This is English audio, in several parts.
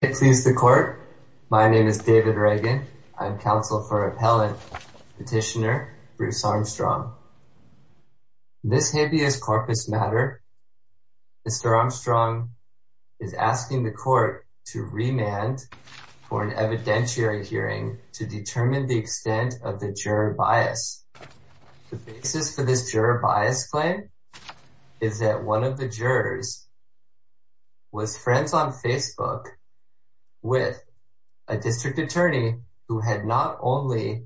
Please the court. My name is David Reagan. I'm counsel for appellate petitioner Bruce Armstrong. This habeas corpus matter. Mr. Armstrong is asking the court to remand for an evidentiary hearing to determine the extent of the juror bias. The basis for this juror bias claim is that one of the jurors was friends on Facebook with a district attorney who had not only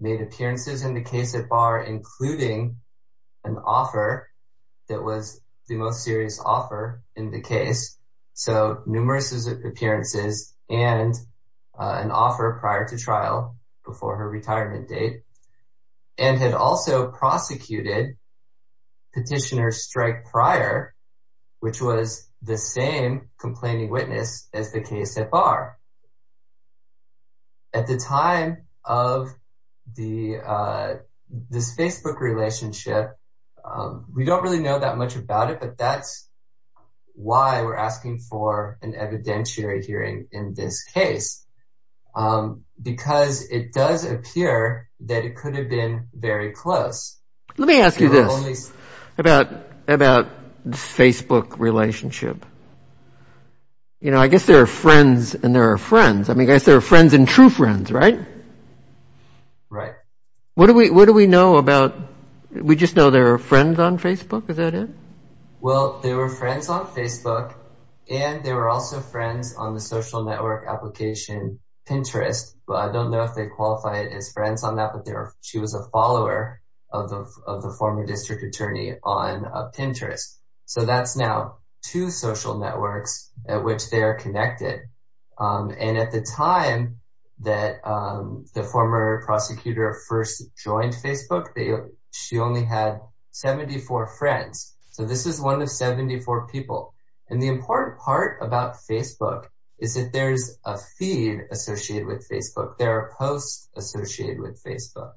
made appearances in the case at bar, including an offer that was the most serious offer in the case. So numerous appearances and an offer prior to trial before her retirement date, and had also prosecuted petitioner strike prior. Which was the same complaining witness as the case at bar. At the time of the this Facebook relationship. We don't really know that much about it. But that's why we're asking for an evidentiary hearing in this case. Because it does appear that it could have been very close. Let me ask you this about about Facebook relationship. You know, I guess there are friends and there are friends. I mean, guys, there are friends and true friends, right? Right. What do we what do we know about? We just know there are friends on Facebook? Is that it? Well, there were friends on Facebook. And there were also friends on the social network application Pinterest. But I don't know if they qualify it as friends on that. But there she was a follower of the former district attorney on Pinterest. So that's now two social networks at which they are connected. And at the time that the former prosecutor first joined Facebook, they she only had 74 friends. So this is one of 74 people. And the important part about Facebook is that there's a feed associated with Facebook, there are posts associated with Facebook.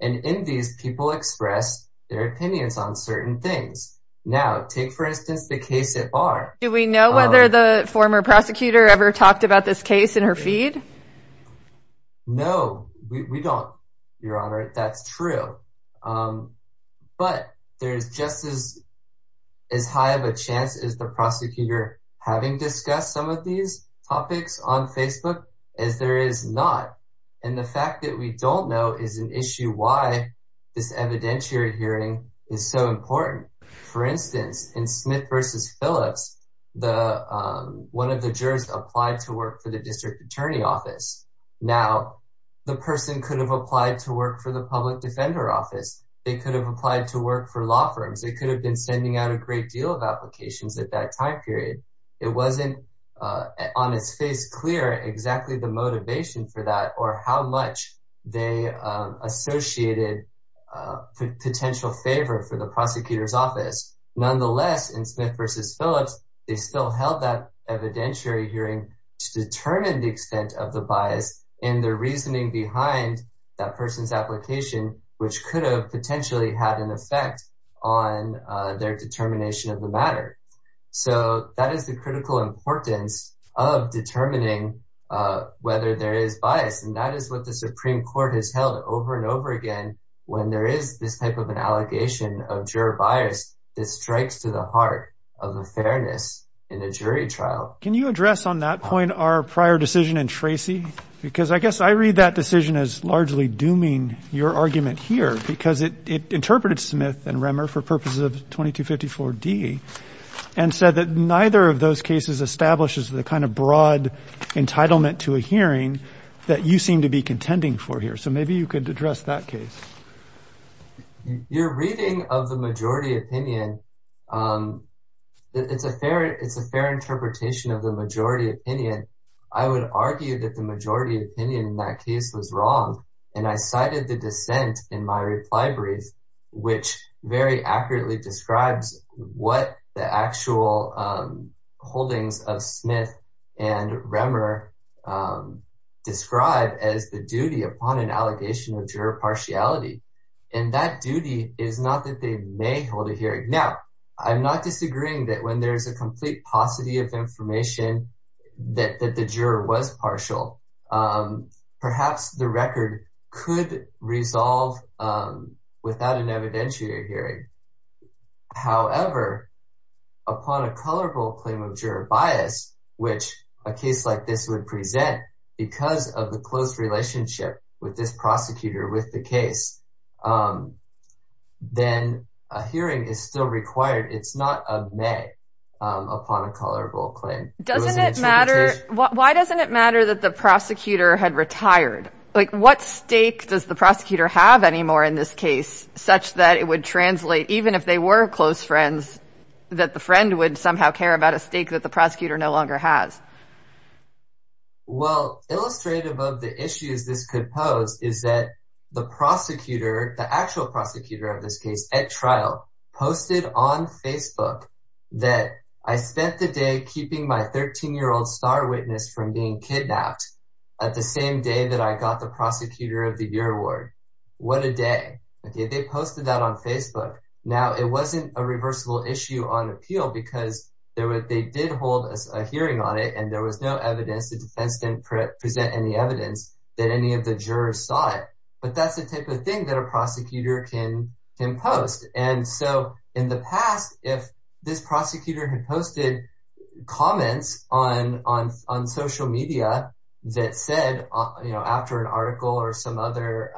And in these people express their opinions on certain things. Now take for instance, the case at bar. Do we know whether the former prosecutor ever talked about this case in her feed? No, we don't. Your Honor, that's true. But there's just as, as high of a chance as the prosecutor having discussed some of these topics on Facebook, as there is not. And the fact that we don't know is an issue why this evidentiary hearing is so important. For instance, in Smith versus Phillips, the one of the jurors applied to work for the district attorney office. Now, the person could have applied to work for the public defender office, they could have applied to work for law firms, they could have been sending out a great deal of on his face clear exactly the motivation for that or how much they associated potential favor for the prosecutor's office. Nonetheless, in Smith versus Phillips, they still held that evidentiary hearing to determine the extent of the bias and the reasoning behind that person's application, which could have potentially had an effect on their determination of the importance of determining whether there is bias. And that is what the Supreme Court has held over and over again, when there is this type of an allegation of juror bias, that strikes to the heart of the fairness in the jury trial. Can you address on that point, our prior decision and Tracy, because I guess I read that decision as largely dooming your argument here, because it interpreted Smith and Remmer for purposes of 2254 D, and said that neither of those cases establishes the kind of broad entitlement to a hearing that you seem to be contending for here. So maybe you could address that case. You're reading of the majority opinion. It's a fair, it's a fair interpretation of the majority opinion, I would argue that the majority opinion in that case was wrong. And I cited the dissent in my reply brief, which very accurately describes what the actual holdings of Smith and Remmer describe as the duty upon an allegation of juror partiality. And that duty is not that they may hold a hearing. Now, I'm not disagreeing that when there's a complete paucity of information, that the juror was partial, perhaps the record could resolve without an evidentiary hearing. However, upon a colorable claim of juror bias, which a case like this would present because of the close relationship with this prosecutor with the case, then a hearing is still required. It's not a may upon a colorable claim. Doesn't it matter? Why doesn't it matter that the prosecutor had retired? Like what stake does the prosecutor have anymore in this case, such that it would translate even if they were close friends, that the friend would somehow care about a stake that the prosecutor no longer has? Well, illustrative of the issues this could pose is that the prosecutor, the actual prosecutor of this case at trial posted on Facebook, that I spent the day keeping my 13 year old star witness from being kidnapped at the same day that I got the prosecutor of the year award. What a day. Okay, they posted that on Facebook. Now, it wasn't a reversible issue on appeal because they did hold a hearing on it and there was no evidence, the defense didn't present any evidence that any of the jurors saw it. But that's the type of thing that a prosecutor can post. And so in the past, if this prosecutor had on social media, that said, you know, after an article or some other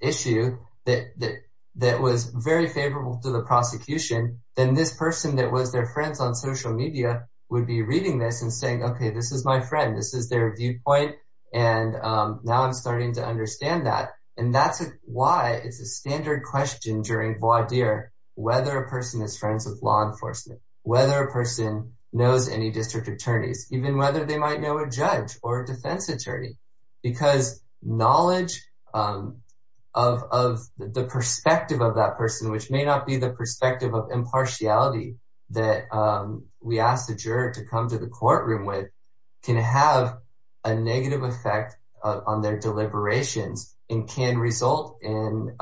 issue that, that was very favorable to the prosecution, then this person that was their friends on social media would be reading this and saying, Okay, this is my friend, this is their viewpoint. And now I'm starting to understand that. And that's why it's a standard question during voir dire, whether a person is friends with law enforcement, whether a person knows any district attorneys, even whether they might know a judge or a defense attorney, because knowledge of the perspective of that person, which may not be the perspective of impartiality, that we asked the juror to come to the courtroom with, can have a negative effect on their deliberations and can result in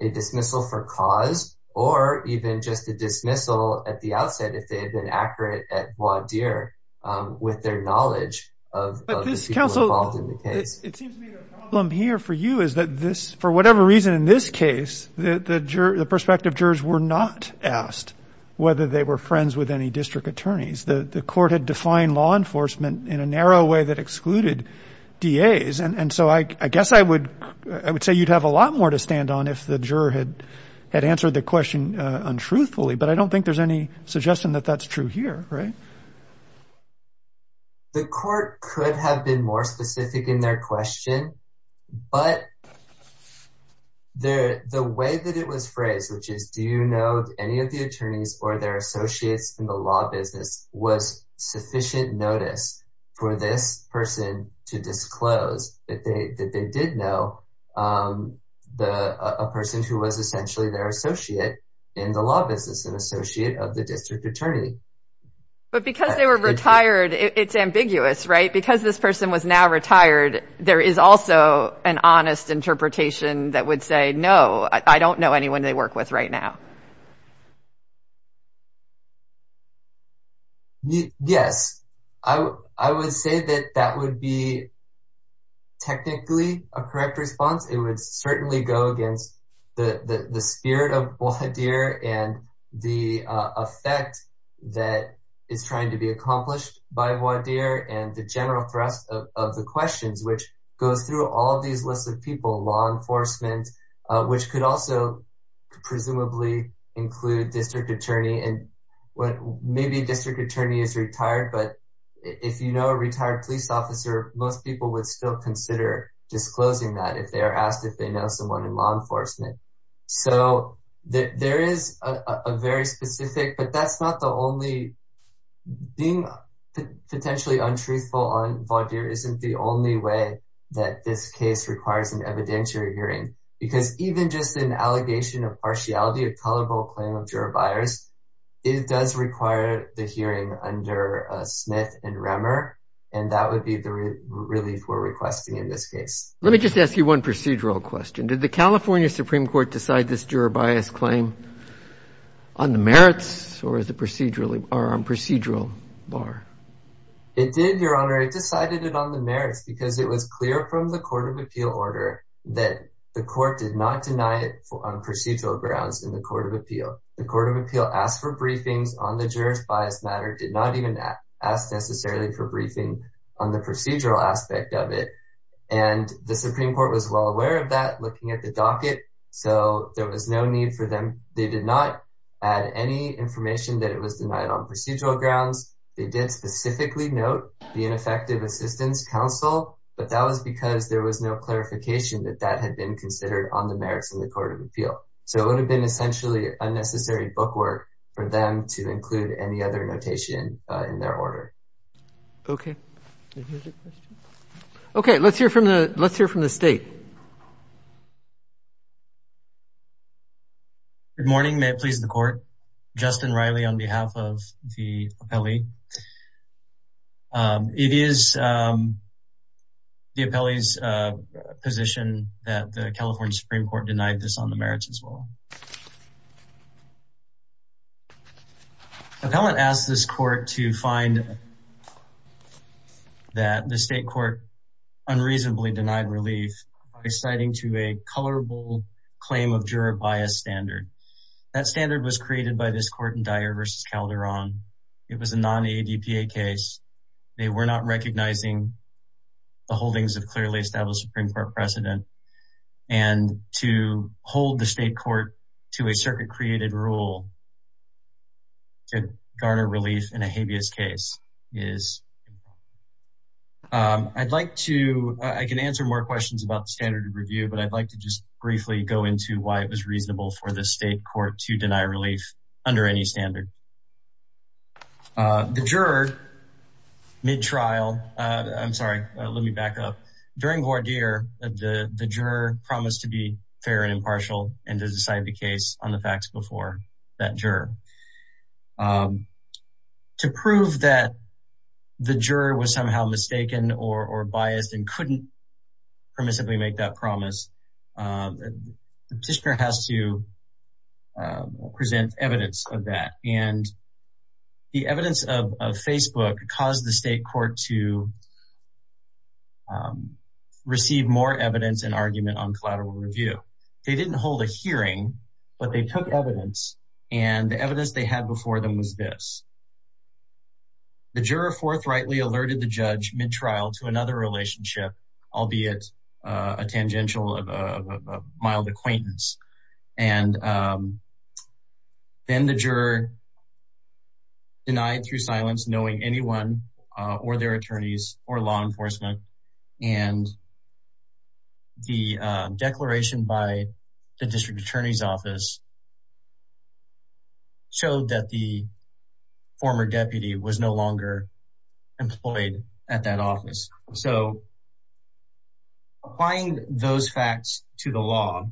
a dismissal for cause, or even just a dismissal at the outset, if they had been accurate at voir dire, with their knowledge of the people involved in the case. It seems to me the problem here for you is that this, for whatever reason, in this case, the perspective jurors were not asked whether they were friends with any district attorneys, the court had defined law enforcement in a narrow way that excluded DAs. And so I guess I would, I would say you'd have a lot more to stand on if the juror had, had answered the question, untruthfully, but I don't think there's any suggestion that that's true here, right? The court could have been more specific in their question. But there, the way that it was phrased, which is, do you know any of the attorneys or their associates in the law business was sufficient notice for this person to disclose that they did know the person who was essentially their associate in the law business and associate of the district attorney. But because they were retired, it's ambiguous, right? Because this person was now retired, there is also an honest interpretation that would say, No, I don't know anyone they work with right now. Yes, I would say that that would be technically a correct response, it would certainly go against the spirit of voir dire and the effect that is trying to be accomplished by voir dire and the general thrust of the questions which goes through all of these lists of people, law enforcement, which could also, presumably, include district attorney and what maybe district attorney is retired, but if you know, a retired police officer, most people would still consider disclosing that if they are asked if they know someone in law enforcement. So that there is a very specific, but that's not the only being potentially untruthful on voir dire isn't the only way that this case requires an evidentiary hearing, because even just an allegation of partiality of colorable claim of juror bias, it does require the hearing under Smith and Remmer. And that would be the relief we're requesting in this case. Let me just ask you one procedural question. Did the California Supreme Court decide this juror bias claim on the merits or the procedurally are on procedural bar? It did, Your Honor, it decided it on the merits because it was clear from the Court of Appeal order that the court did not deny it on procedural grounds in the Court of Appeal, the Court of Appeal asked for briefings on the jurors bias matter did not even ask necessarily for briefing on the procedural aspect of it. And the Supreme Court was well aware of that looking at the docket. So there was no need for them. They did not add any information that it was denied on procedural grounds. They did specifically note the ineffective assistance counsel, but that was because there was no clarification that that had been considered on the merits of the Court of Appeal. So it would have been essentially unnecessary bookwork for them to include any other notation in their order. Okay. Okay, let's hear from the let's hear from the state. Good morning, may it please the court, Justin Riley on behalf of the appellee. It is the appellee's position that the California Supreme Court denied this on the merits as well. Appellant asked this court to find that the state court unreasonably denied relief by citing to a colorable claim of juror bias standard. That standard was created by this court in Dyer versus Calderon. It was a non-ADPA case. They were not recognizing the holdings of clearly established Supreme Court precedent. And to hold the state court to a circuit created rule to garner relief in a habeas case is I'd like to, I can answer more questions about the standard of review, but I'd like to just briefly go into why it was denied relief under any standard. The juror, mid-trial, I'm sorry, let me back up. During voir dire, the juror promised to be fair and impartial and to decide the case on the facts before that juror. To prove that the juror was somehow mistaken or biased and couldn't permissibly make that evidence of that. And the evidence of Facebook caused the state court to receive more evidence and argument on collateral review. They didn't hold a hearing, but they took evidence and the evidence they had before them was this. The juror forthrightly alerted the judge mid-trial to another relationship, albeit a tangential of a mild acquaintance. And then the juror denied through silence, knowing anyone or their attorneys or law enforcement and the declaration by the district attorney's office showed that the former deputy was no longer employed at that office. So applying those facts to the law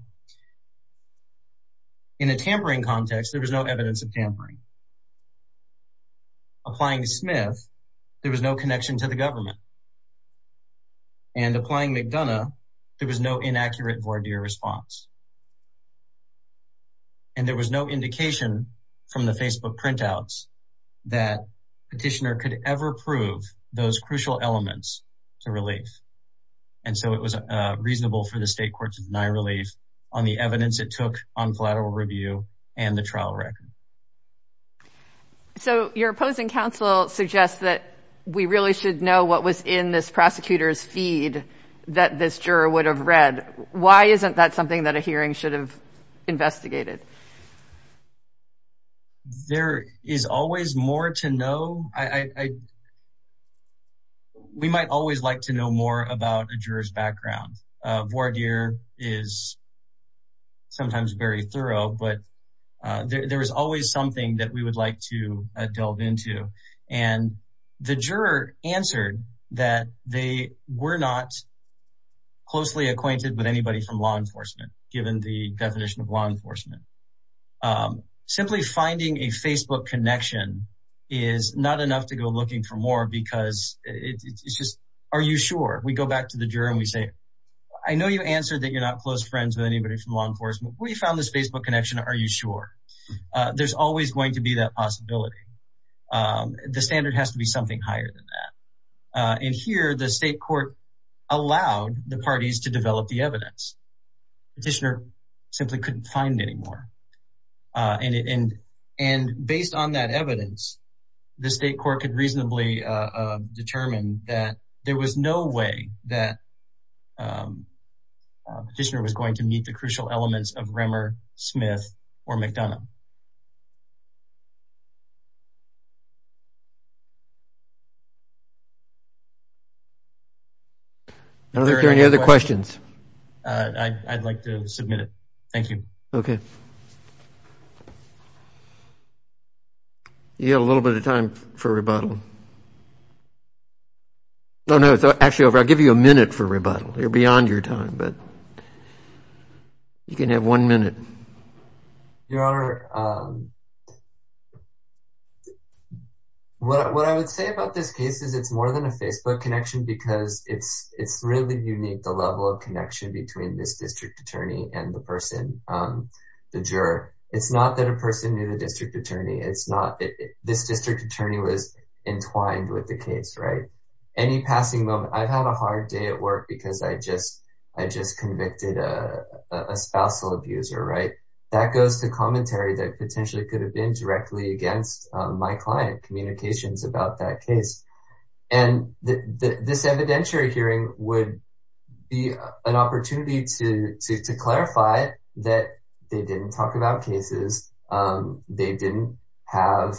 in a tampering context, there was no evidence of tampering. Applying Smith, there was no connection to the government and applying McDonough, there was no inaccurate voir dire response. And there was no indication from the Facebook printouts that petitioner could ever prove those crucial elements to relief. And so it was reasonable for the state court to deny relief on the evidence it took on collateral review and the trial record. So your opposing counsel suggests that we really should know what was in this prosecutor's feed that this juror would have read. Why isn't that something that a hearing should have investigated? There is always more to know. We might always like to know more about a juror's background. Voir dire is sometimes very thorough, but there is always something that we would like to delve into. And the juror answered that they were not closely acquainted with anybody from law enforcement, given the definition of law enforcement. Simply finding a Facebook connection is not enough to go looking for more because it's are you sure we go back to the juror and we say, I know you answered that you're not close friends with anybody from law enforcement, we found this Facebook connection. Are you sure? There's always going to be that possibility. The standard has to be something higher than that. And here the state court allowed the parties to develop the evidence petitioner simply couldn't find anymore. And, and, and based on that evidence, the there was no way that petitioner was going to meet the crucial elements of Remmer, Smith, or McDonough. Are there any other questions? I'd like to submit it. Thank you. Okay. You got a little bit of time for rebuttal. No, no, it's actually over. I'll give you a minute for rebuttal. You're beyond your time. But you can have one minute. Your Honor. What I would say about this case is it's more than a Facebook connection, because it's it's really unique, the level of connection between this district attorney and the person, the juror, it's not that a person knew the district attorney, it's not this district attorney was entwined with the case, right? Any passing moment, I've had a hard day at work, because I just, I just convicted a spousal abuser, right? That goes to commentary that potentially could have been directly against my client communications about that case. And this evidentiary hearing would be an opportunity to, to clarify that they didn't talk about cases. They didn't have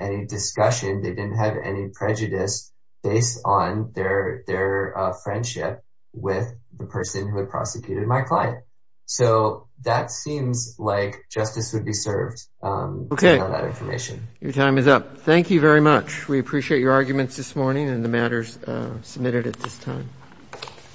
any discussion, they didn't have any prejudice based on their their friendship with the person who had prosecuted my client. So that seems like justice would be served. Okay, that information, your time is up. Thank you very much. We appreciate your arguments this morning and the matters submitted at this time.